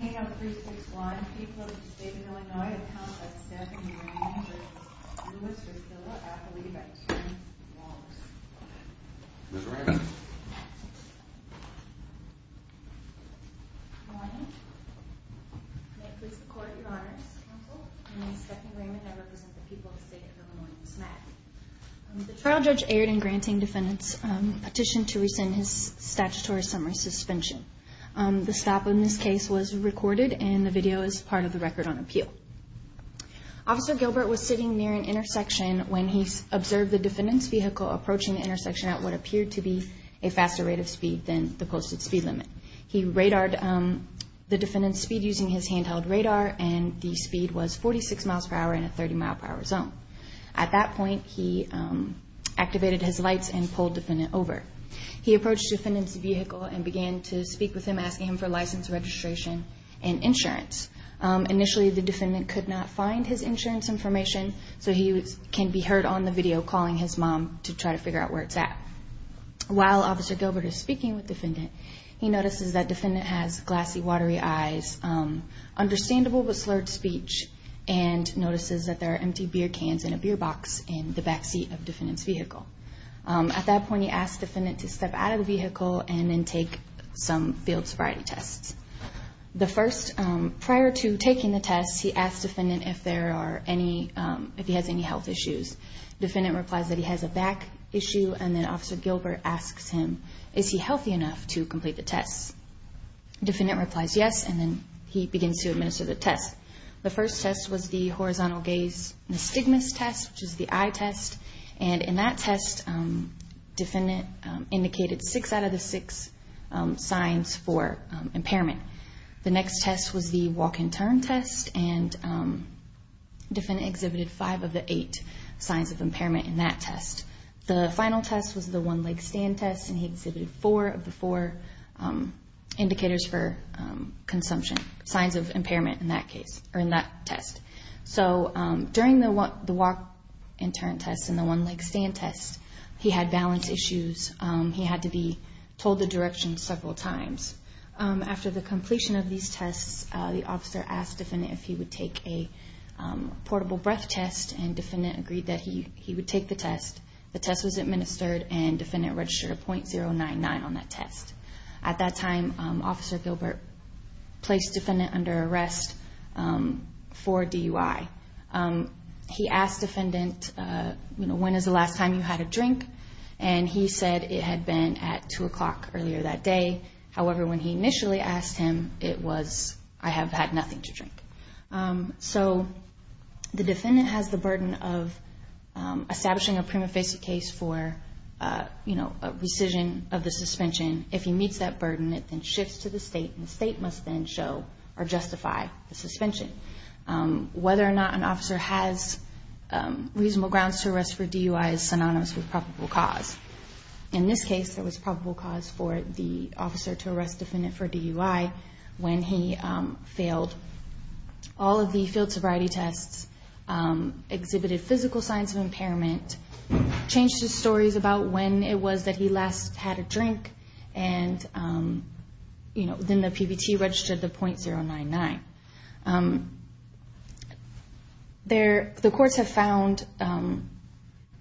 I believe by 10. Ms. Raymond? Good morning. May it please the Court, Your Honors. Counsel, my name is Stephanie Raymond and I represent the people of the state of Illinois in this matter. The trial judge erred in granting defendants petition to rescind his statutory summary suspension. The stop in this case was recorded and the video is part of the record on appeal. Officer Gilbert was sitting near an intersection when he observed the defendant's vehicle approaching the intersection at what appeared to be a faster rate of speed than the posted speed limit. He radared the defendant's speed using his handheld radar and the speed was 46 mph in a 30 mph zone. At that point, he activated his lights and pulled the defendant over. He approached the defendant's vehicle and began to speak with him, asking him for license, registration and insurance. Initially, the defendant could not find his insurance information, so he can be heard on the video calling his mom to try to figure out where it's at. While Officer Gilbert is speaking with the defendant, he notices that the defendant has glassy, watery eyes, understandable with slurred speech and notices that there are empty beer cans in a beer box in the backseat of the defendant's vehicle. At that point, he asks the defendant to step out of the vehicle and then take some field sobriety tests. Prior to taking the tests, he asks the defendant if he has any health issues. The defendant replies that he has a back issue and then Officer Gilbert asks him, is he healthy enough to complete the tests? The defendant replies yes and then he begins to administer the tests. The first test was the horizontal gaze nystigmus test, which is the eye test. In that test, the defendant indicated 6 out of the 6 signs for impairment. The next test was the walk and turn test and the defendant exhibited 5 of the 8 signs of impairment in that test. The final test was the one leg stand test and he exhibited 4 of the 4 indicators for consumption, signs of impairment in that test. During the walk and turn test and the one leg stand test, he had balance issues. He had to be told the direction several times. After the completion of these tests, the officer asked the defendant if he would take a portable breath test and the defendant agreed that he would take the test. The test was administered and the defendant registered a .099 on that test. At that time, Officer Gilbert placed the defendant under arrest for DUI. He asked the defendant, when is the last time you had a drink? He said it had been at 2 o'clock earlier that day. However, when he initially asked him, it was, I have had nothing to drink. The defendant has the burden of establishing a prima facie case for a rescission of the suspension. If he meets that burden, it then shifts to the state and the state must then show or justify the suspension. Whether or not an officer has reasonable grounds to arrest for DUI is synonymous with probable cause. In this case, there was probable cause for the officer to arrest the defendant for DUI when he failed all of the field sobriety tests, exhibited physical signs of impairment, changed his stories about when it was that he last had a drink and then the PBT registered the .099. The courts have found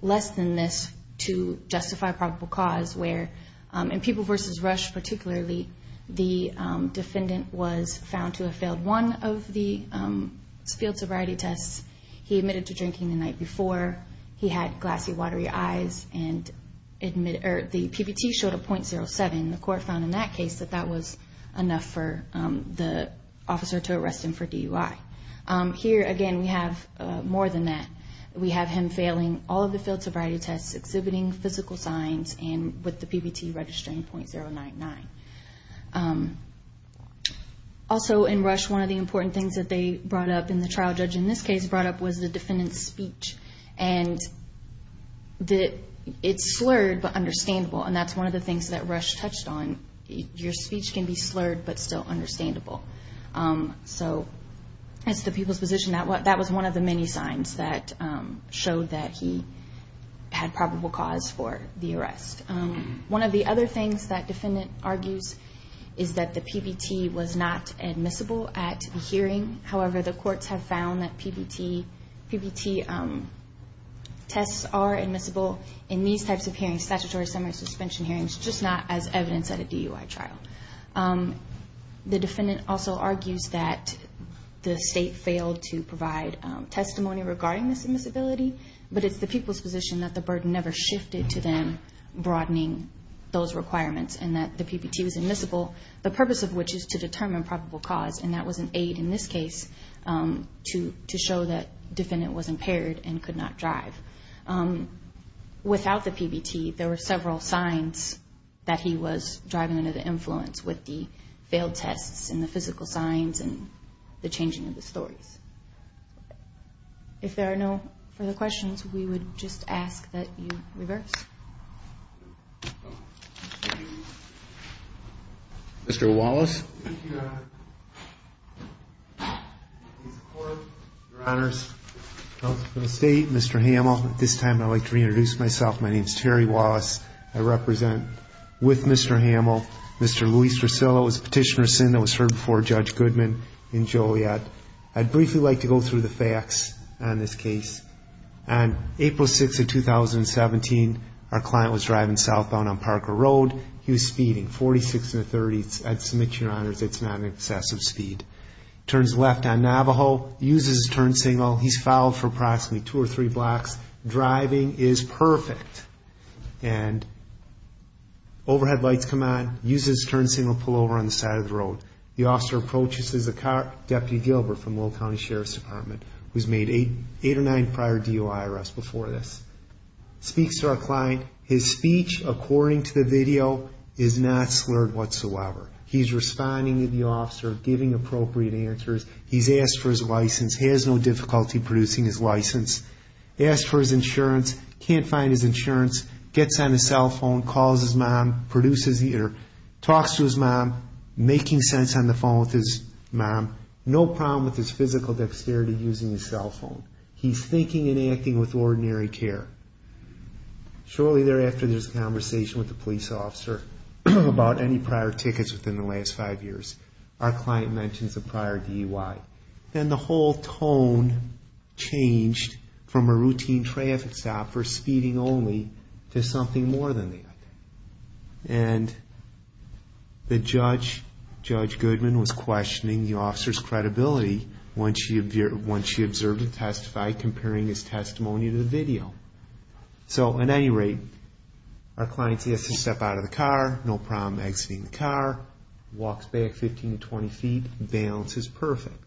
less than this to justify probable cause where in People v. Rush particularly, the defendant was found to have failed one of the field sobriety tests. He admitted to drinking the night before. He had glassy, watery eyes and the PBT showed a .07. The court found in that case that that was enough for the officer to arrest him for DUI. Here again, we have more than that. We have him failing all of the field sobriety tests, exhibiting physical signs and with the PBT registering .099. Also in Rush, one of the important things that they brought up in the trial judge in this case brought up was the defendant's speech. It's slurred but understandable and that's one of the things that Rush touched on. Your speech can be slurred but still understandable. So that's the people's position. That was one of the many signs that showed that he had probable cause for the arrest. One of the other things that defendant argues is that the PBT was not admissible at the hearing. However, the courts have found that PBT tests are admissible in these types of hearings, statutory summary suspension hearings, just not as evidenced at a DUI trial. The defendant also argues that the state failed to provide testimony regarding this admissibility, but it's the people's position that the burden never shifted to them broadening those requirements and that the PBT was admissible, the purpose of which is to determine probable cause, and that was an aid in this case to show that defendant was impaired and could not drive. Without the PBT, there were several signs that he was driving under the influence with the failed tests and the physical signs and the changing of the stories. If there are no further questions, we would just ask that you reverse. Thank you. Mr. Wallace. Thank you, Your Honor. In support, Your Honors. Counsel for the State, Mr. Hamel. At this time, I'd like to reintroduce myself. My name is Terry Wallace. I represent with Mr. Hamel, Mr. Luis Rosillo. He was a petitioner of sin that was heard before Judge Goodman in Joliet. I'd briefly like to go through the facts on this case. On April 6th of 2017, our client was driving southbound on Parker Road. He was speeding, 46 in the 30s. I'd submit, Your Honors, it's not an excessive speed. Turns left on Navajo, uses his turn signal. He's followed for approximately two or three blocks. Driving is perfect. And overhead lights come on, uses his turn signal, pull over on the side of the road. The officer approaches. This is Deputy Gilbert from Lowell County Sheriff's Department, who's made eight or nine prior DOI arrests before this. Speaks to our client. His speech, according to the video, is not slurred whatsoever. He's responding to the officer, giving appropriate answers. He's asked for his license. He has no difficulty producing his license. Asked for his insurance, can't find his insurance. Gets on his cell phone, calls his mom, produces, talks to his mom, making sense on the phone with his mom. No problem with his physical dexterity using his cell phone. He's thinking and acting with ordinary care. Shortly thereafter, there's a conversation with the police officer about any prior tickets within the last five years. Our client mentions a prior DOI. And the whole tone changed from a routine traffic stop for speeding only to something more than that. And the judge, Judge Goodman, was questioning the officer's credibility once she observed and testified, comparing his testimony to the video. So, at any rate, our client says he has to step out of the car. No problem exiting the car. Walks back 15 to 20 feet. Balance is perfect.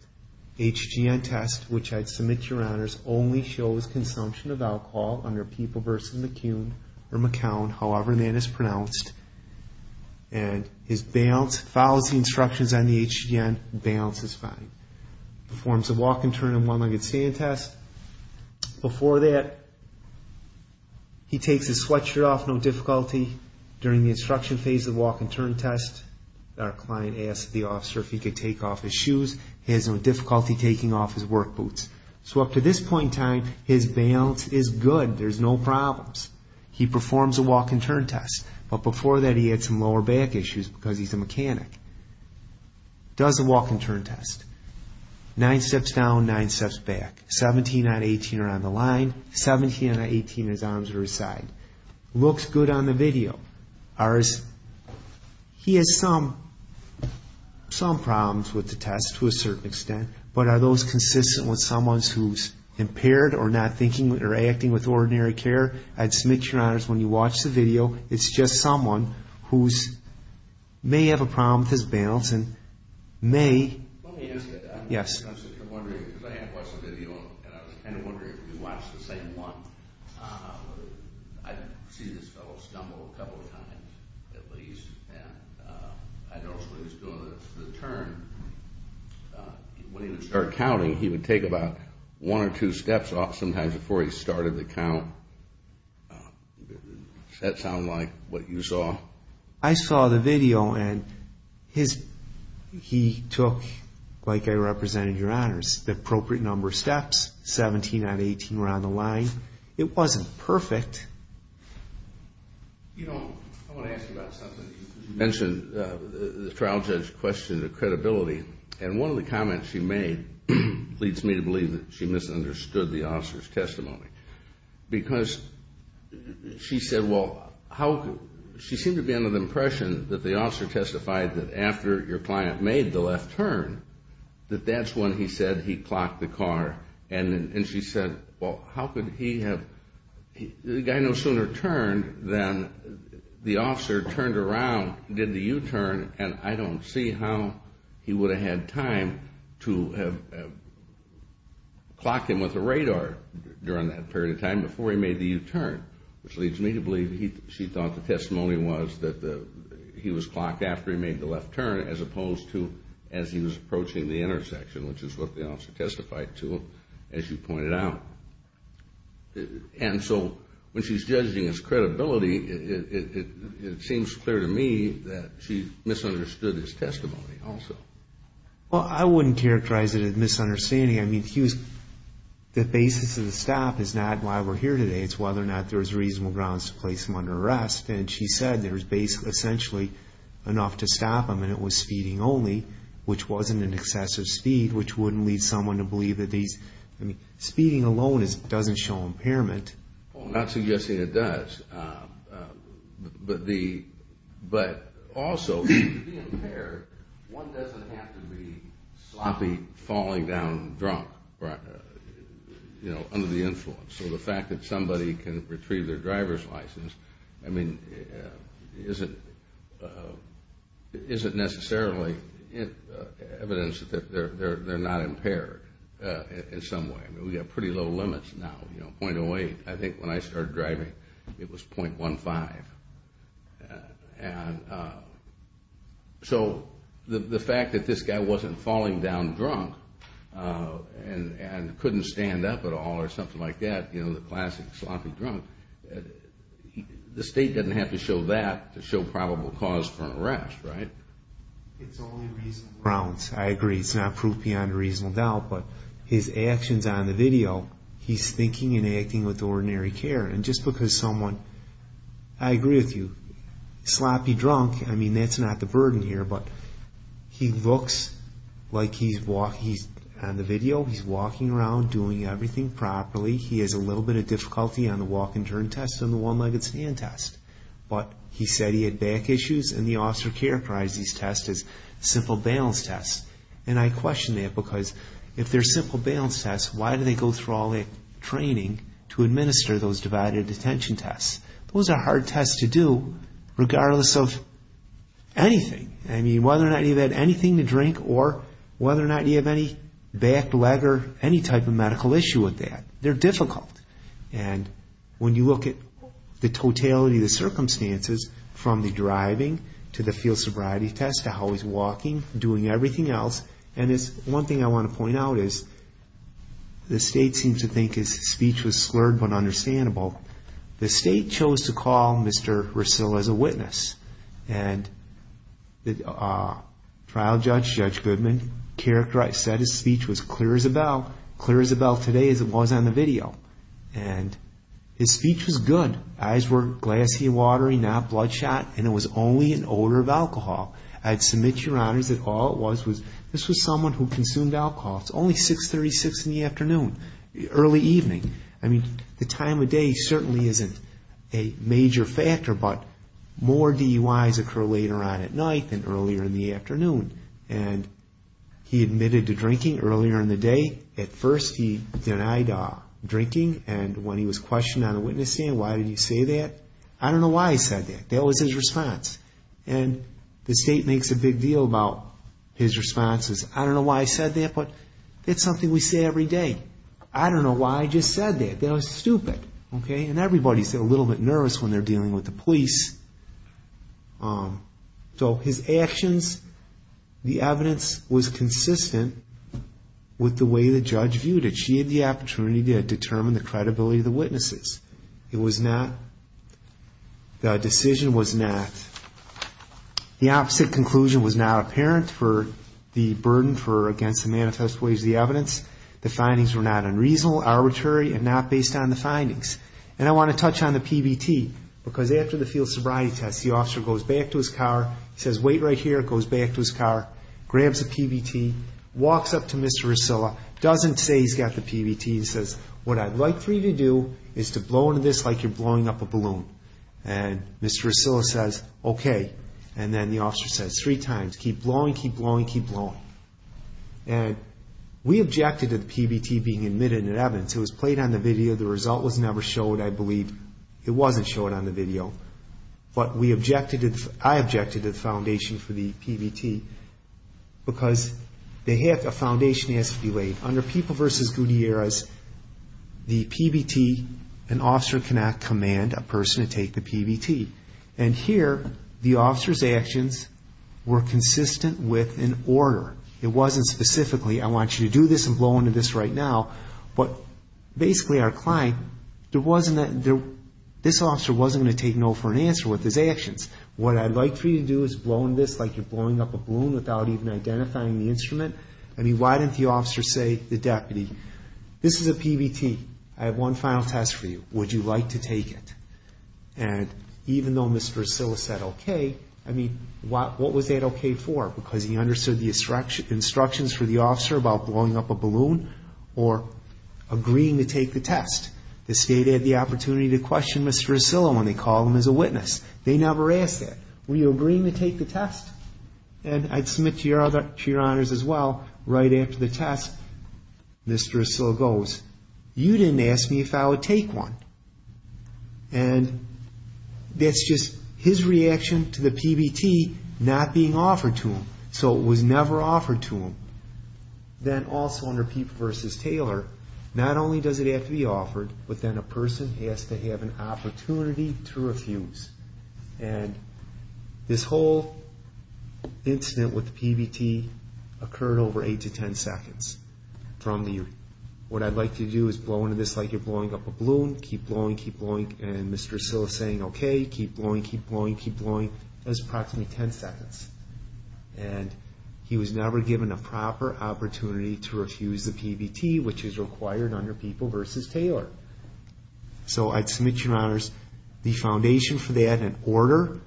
HGN test, which I'd submit to your honors, only shows consumption of alcohol under people versus McCune or McCown, however that is pronounced. And his balance follows the instructions on the HGN. Balance is fine. Performs a walk-and-turn and one-legged stand test. Before that, he takes his sweatshirt off, no difficulty. During the instruction phase of the walk-and-turn test, our client asked the officer if he could take off his shoes. He has no difficulty taking off his work boots. So up to this point in time, his balance is good. There's no problems. He performs a walk-and-turn test. But before that, he had some lower back issues because he's a mechanic. Does the walk-and-turn test. Nine steps down, nine steps back. 17 out of 18 are on the line. 17 out of 18, his arms are aside. Looks good on the video. He has some problems with the test to a certain extent, but are those consistent with someone who's impaired or not thinking or acting with ordinary care? I'd submit, Your Honors, when you watch the video, it's just someone who may have a problem with his balance and may. Let me ask you that. Yes. I'm wondering because I have watched the video, and I was kind of wondering if you watched the same one. I've seen this fellow stumble a couple of times at least. I noticed when he was doing the turn, when he would start counting, he would take about one or two steps off sometimes before he started the count. Does that sound like what you saw? I saw the video, and he took, like I represented, Your Honors, the appropriate number of steps, 17 out of 18 were on the line. It wasn't perfect. You know, I want to ask you about something. You mentioned the trial judge questioned the credibility, and one of the comments she made leads me to believe that she misunderstood the officer's testimony because she said, well, she seemed to be under the impression that the officer testified that after your client made the left turn, that that's when he said he clocked the car. And she said, well, how could he have? The guy no sooner turned than the officer turned around, did the U-turn, and I don't see how he would have had time to have clocked him with a radar during that period of time before he made the U-turn, which leads me to believe she thought the testimony was that he was clocked after he made the left turn as opposed to as he was approaching the intersection, which is what the officer testified to, as you pointed out. And so when she's judging his credibility, it seems clear to me that she misunderstood his testimony also. Well, I wouldn't characterize it as misunderstanding. I mean, the basis of the stop is not why we're here today. It's whether or not there was reasonable grounds to place him under arrest, and she said there was essentially enough to stop him, and it was speeding only, which wasn't an excessive speed, which wouldn't lead someone to believe that these – I mean, speeding alone doesn't show impairment. Well, I'm not suggesting it does, but also, to be impaired, one doesn't have to be sloppy, falling down drunk, you know, under the influence. So the fact that somebody can retrieve their driver's license, I mean, isn't necessarily evidence that they're not impaired in some way. I mean, we have pretty low limits now, you know, 0.08. I think when I started driving, it was 0.15. And so the fact that this guy wasn't falling down drunk and couldn't stand up at all or something like that, you know, the classic sloppy drunk, the state doesn't have to show that to show probable cause for an arrest, right? It's only reasonable grounds. I agree. It's not proof beyond a reasonable doubt, but his actions on the video, he's thinking and acting with ordinary care. And just because someone – I agree with you. Sloppy drunk, I mean, that's not the burden here, but he looks like he's – on the video, he's walking around, doing everything properly. He has a little bit of difficulty on the walk and turn test and the one-legged stand test. But he said he had back issues, and the officer characterized these tests as simple balance tests. And I question that because if they're simple balance tests, why do they go through all that training to administer those divided attention tests? Those are hard tests to do regardless of anything. I mean, whether or not you've had anything to drink or whether or not you have any back, leg, or any type of medical issue with that. They're difficult. And when you look at the totality of the circumstances, from the driving to the field sobriety test to how he's walking, doing everything else, and one thing I want to point out is the state seems to think his speech was slurred but understandable. The state chose to call Mr. Russo as a witness. And the trial judge, Judge Goodman, characterized – said his speech was clear as a bell, clear as a bell today as it was on the video. And his speech was good. Eyes were glassy and watery, not bloodshot, and it was only an odor of alcohol. I'd submit, Your Honors, that all it was was – this was someone who consumed alcohol. It's only 6.36 in the afternoon, early evening. I mean, the time of day certainly isn't a major factor, but more DUIs occur later on at night than earlier in the afternoon. And he admitted to drinking earlier in the day. At first, he denied drinking. And when he was questioned on a witness stand, why did he say that? I don't know why he said that. That was his response. And the state makes a big deal about his responses. I don't know why he said that, but it's something we say every day. I don't know why he just said that. That was stupid. Okay? And everybody's a little bit nervous when they're dealing with the police. So his actions, the evidence was consistent with the way the judge viewed it. She had the opportunity to determine the credibility of the witnesses. It was not – the decision was not – the opposite conclusion was not apparent for the burden for against the manifest ways of the evidence. The findings were not unreasonable, arbitrary, and not based on the findings. And I want to touch on the PBT, because after the field sobriety test, the officer goes back to his car, he says, wait right here, goes back to his car, grabs a PBT, walks up to Mr. Ursula, doesn't say he's got the PBT. He says, what I'd like for you to do is to blow into this like you're blowing up a balloon. And Mr. Ursula says, okay. And then the officer says three times, keep blowing, keep blowing, keep blowing. And we objected to the PBT being admitted in evidence. It was played on the video. The result was never showed. I believe it wasn't showed on the video. But we objected – I objected to the foundation for the PBT, because a foundation has to be laid. Under People v. Gutierrez, the PBT, an officer cannot command a person to take the PBT. And here, the officer's actions were consistent with an order. It wasn't specifically, I want you to do this and blow into this right now. But basically, our client, this officer wasn't going to take no for an answer with his actions. What I'd like for you to do is blow into this like you're blowing up a balloon without even identifying the instrument. I mean, why didn't the officer say to the deputy, this is a PBT. I have one final test for you. Would you like to take it? And even though Mr. Ursula said okay, I mean, what was that okay for? Because he understood the instructions for the officer about blowing up a balloon or agreeing to take the test. The state had the opportunity to question Mr. Ursula when they called him as a witness. They never asked that. Were you agreeing to take the test? And I'd submit to your honors as well, right after the test, Mr. Ursula goes, you didn't ask me if I would take one. And that's just his reaction to the PBT not being offered to him. So it was never offered to him. Then also under Peep v. Taylor, not only does it have to be offered, but then a person has to have an opportunity to refuse. And this whole incident with the PBT occurred over 8 to 10 seconds. What I'd like you to do is blow into this like you're blowing up a balloon, keep blowing, keep blowing. And Mr. Ursula's saying, okay, keep blowing, keep blowing, keep blowing. That's approximately 10 seconds. And he was never given a proper opportunity to refuse the PBT, which is required under Peep v. Taylor. So I'd submit to your honors the foundation for that in order,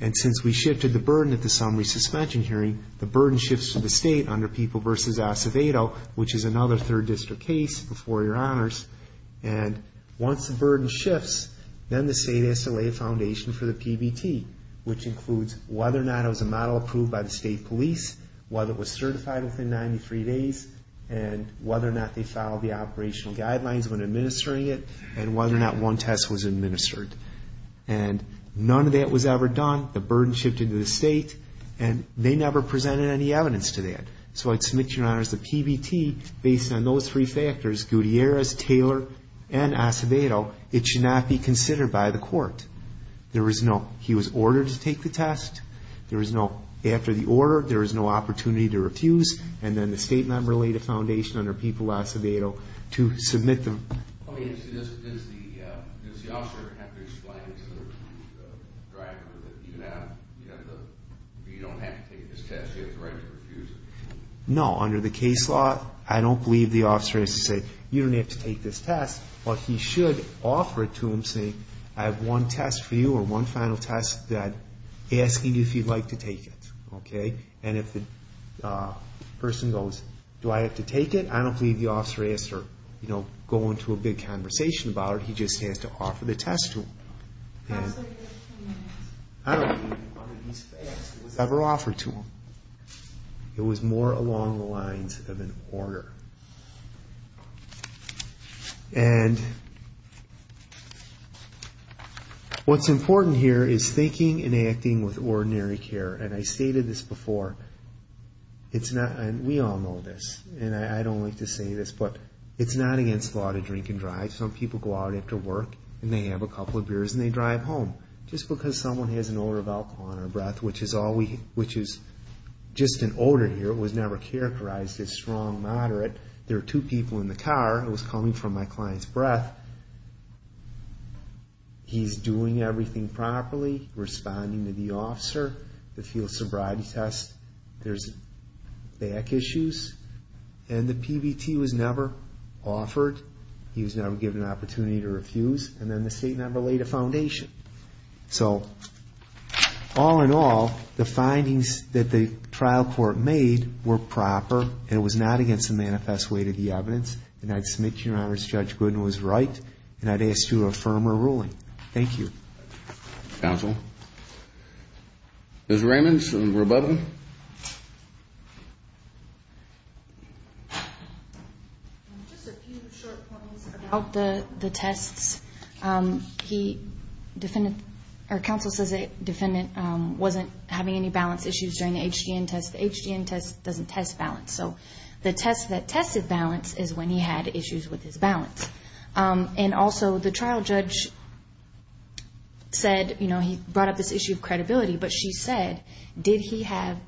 And since we shifted the burden at the summary suspension hearing, the burden shifts to the state under Peep v. Acevedo, which is another third district case before your honors. And once the burden shifts, then the state has to lay a foundation for the PBT, which includes whether or not it was a model approved by the state police, whether it was certified within 93 days, and whether or not they followed the operational guidelines when administering it, and whether or not one test was administered. And none of that was ever done. The burden shifted to the state. And they never presented any evidence to that. So I'd submit to your honors the PBT based on those three factors, Gutierrez, Taylor, and Acevedo. It should not be considered by the court. There was no, he was ordered to take the test. There was no, after the order, there was no opportunity to refuse. And then the state member laid a foundation under Peep v. Acevedo to submit the Does the officer have to explain to the driver that you don't have to take this test, you have the right to refuse it? No, under the case law, I don't believe the officer has to say, you don't have to take this test. But he should offer it to him saying, I have one test for you, or one final test, asking if you'd like to take it. And if the person goes, do I have to take it? I don't believe the officer has to go into a big conversation about it. He just has to offer the test to him. I don't believe one of these facts was ever offered to him. It was more along the lines of an order. And what's important here is thinking and acting with ordinary care. And I stated this before. We all know this, and I don't like to say this, but it's not against the law to drink and drive. Some people go out after work, and they have a couple of beers, and they drive home. Just because someone has an odor of alcohol on their breath, which is just an odor here, it was never characterized as strong, moderate. There were two people in the car, it was coming from my client's breath. He's doing everything properly, responding to the officer, the field sobriety test. There's back issues. And the PBT was never offered. He was never given an opportunity to refuse. And then the state never laid a foundation. So all in all, the findings that the trial court made were proper, and it was not against the manifest way to the evidence. And I'd submit to your honors Judge Gooden was right, and I'd ask for a firmer ruling. Thank you. Counsel? Ms. Raymond, some rebuttal? Just a few short points about the tests. Our counsel says the defendant wasn't having any balance issues during the HDN test. The HDN test doesn't test balance. So the test that tested balance is when he had issues with his balance. And also the trial judge said, you know, he brought up this issue of credibility, but she said, did he have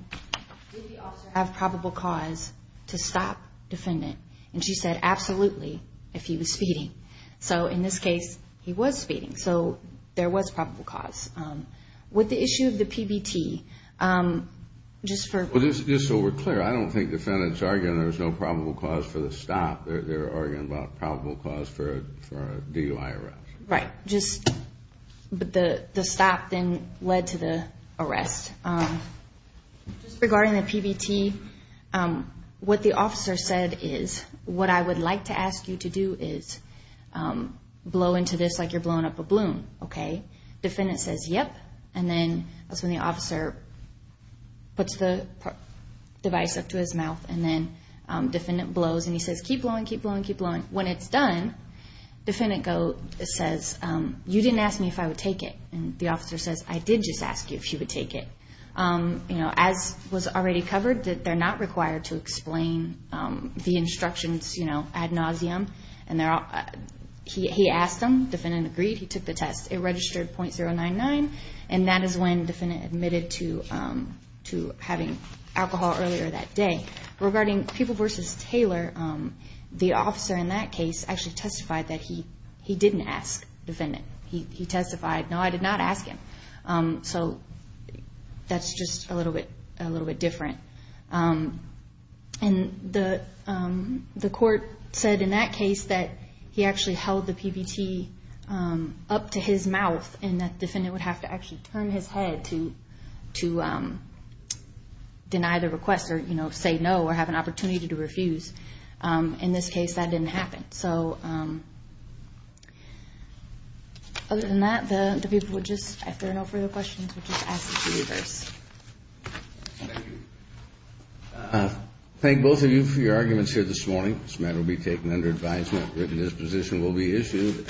probable cause to stop defendant? And she said, absolutely, if he was speeding. So in this case, he was speeding. So there was probable cause. With the issue of the PBT, just for ---- Just so we're clear, I don't think the defendant's arguing there was no probable cause for the stop. They're arguing about probable cause for a DUI arrest. Right. Just the stop then led to the arrest. Just regarding the PBT, what the officer said is, what I would like to ask you to do is blow into this like you're blowing up a balloon, okay? Defendant says, yep. And then that's when the officer puts the device up to his mouth, and then defendant blows. And he says, keep blowing, keep blowing, keep blowing. When it's done, defendant says, you didn't ask me if I would take it. And the officer says, I did just ask you if you would take it. As was already covered, they're not required to explain the instructions ad nauseam. He asked them. Defendant agreed. He took the test. It registered .099, and that is when defendant admitted to having alcohol earlier that day. Regarding Peeble v. Taylor, the officer in that case actually testified that he didn't ask defendant. He testified, no, I did not ask him. So that's just a little bit different. And the court said in that case that he actually held the PBT up to his mouth and that defendant would have to actually turn his head to deny the request or, you know, say no or have an opportunity to refuse. In this case, that didn't happen. So other than that, the people would just, if there are no further questions, would just ask the jurors. Thank you. Thank both of you for your arguments here this morning. This matter will be taken under advisement. Written disposition will be issued.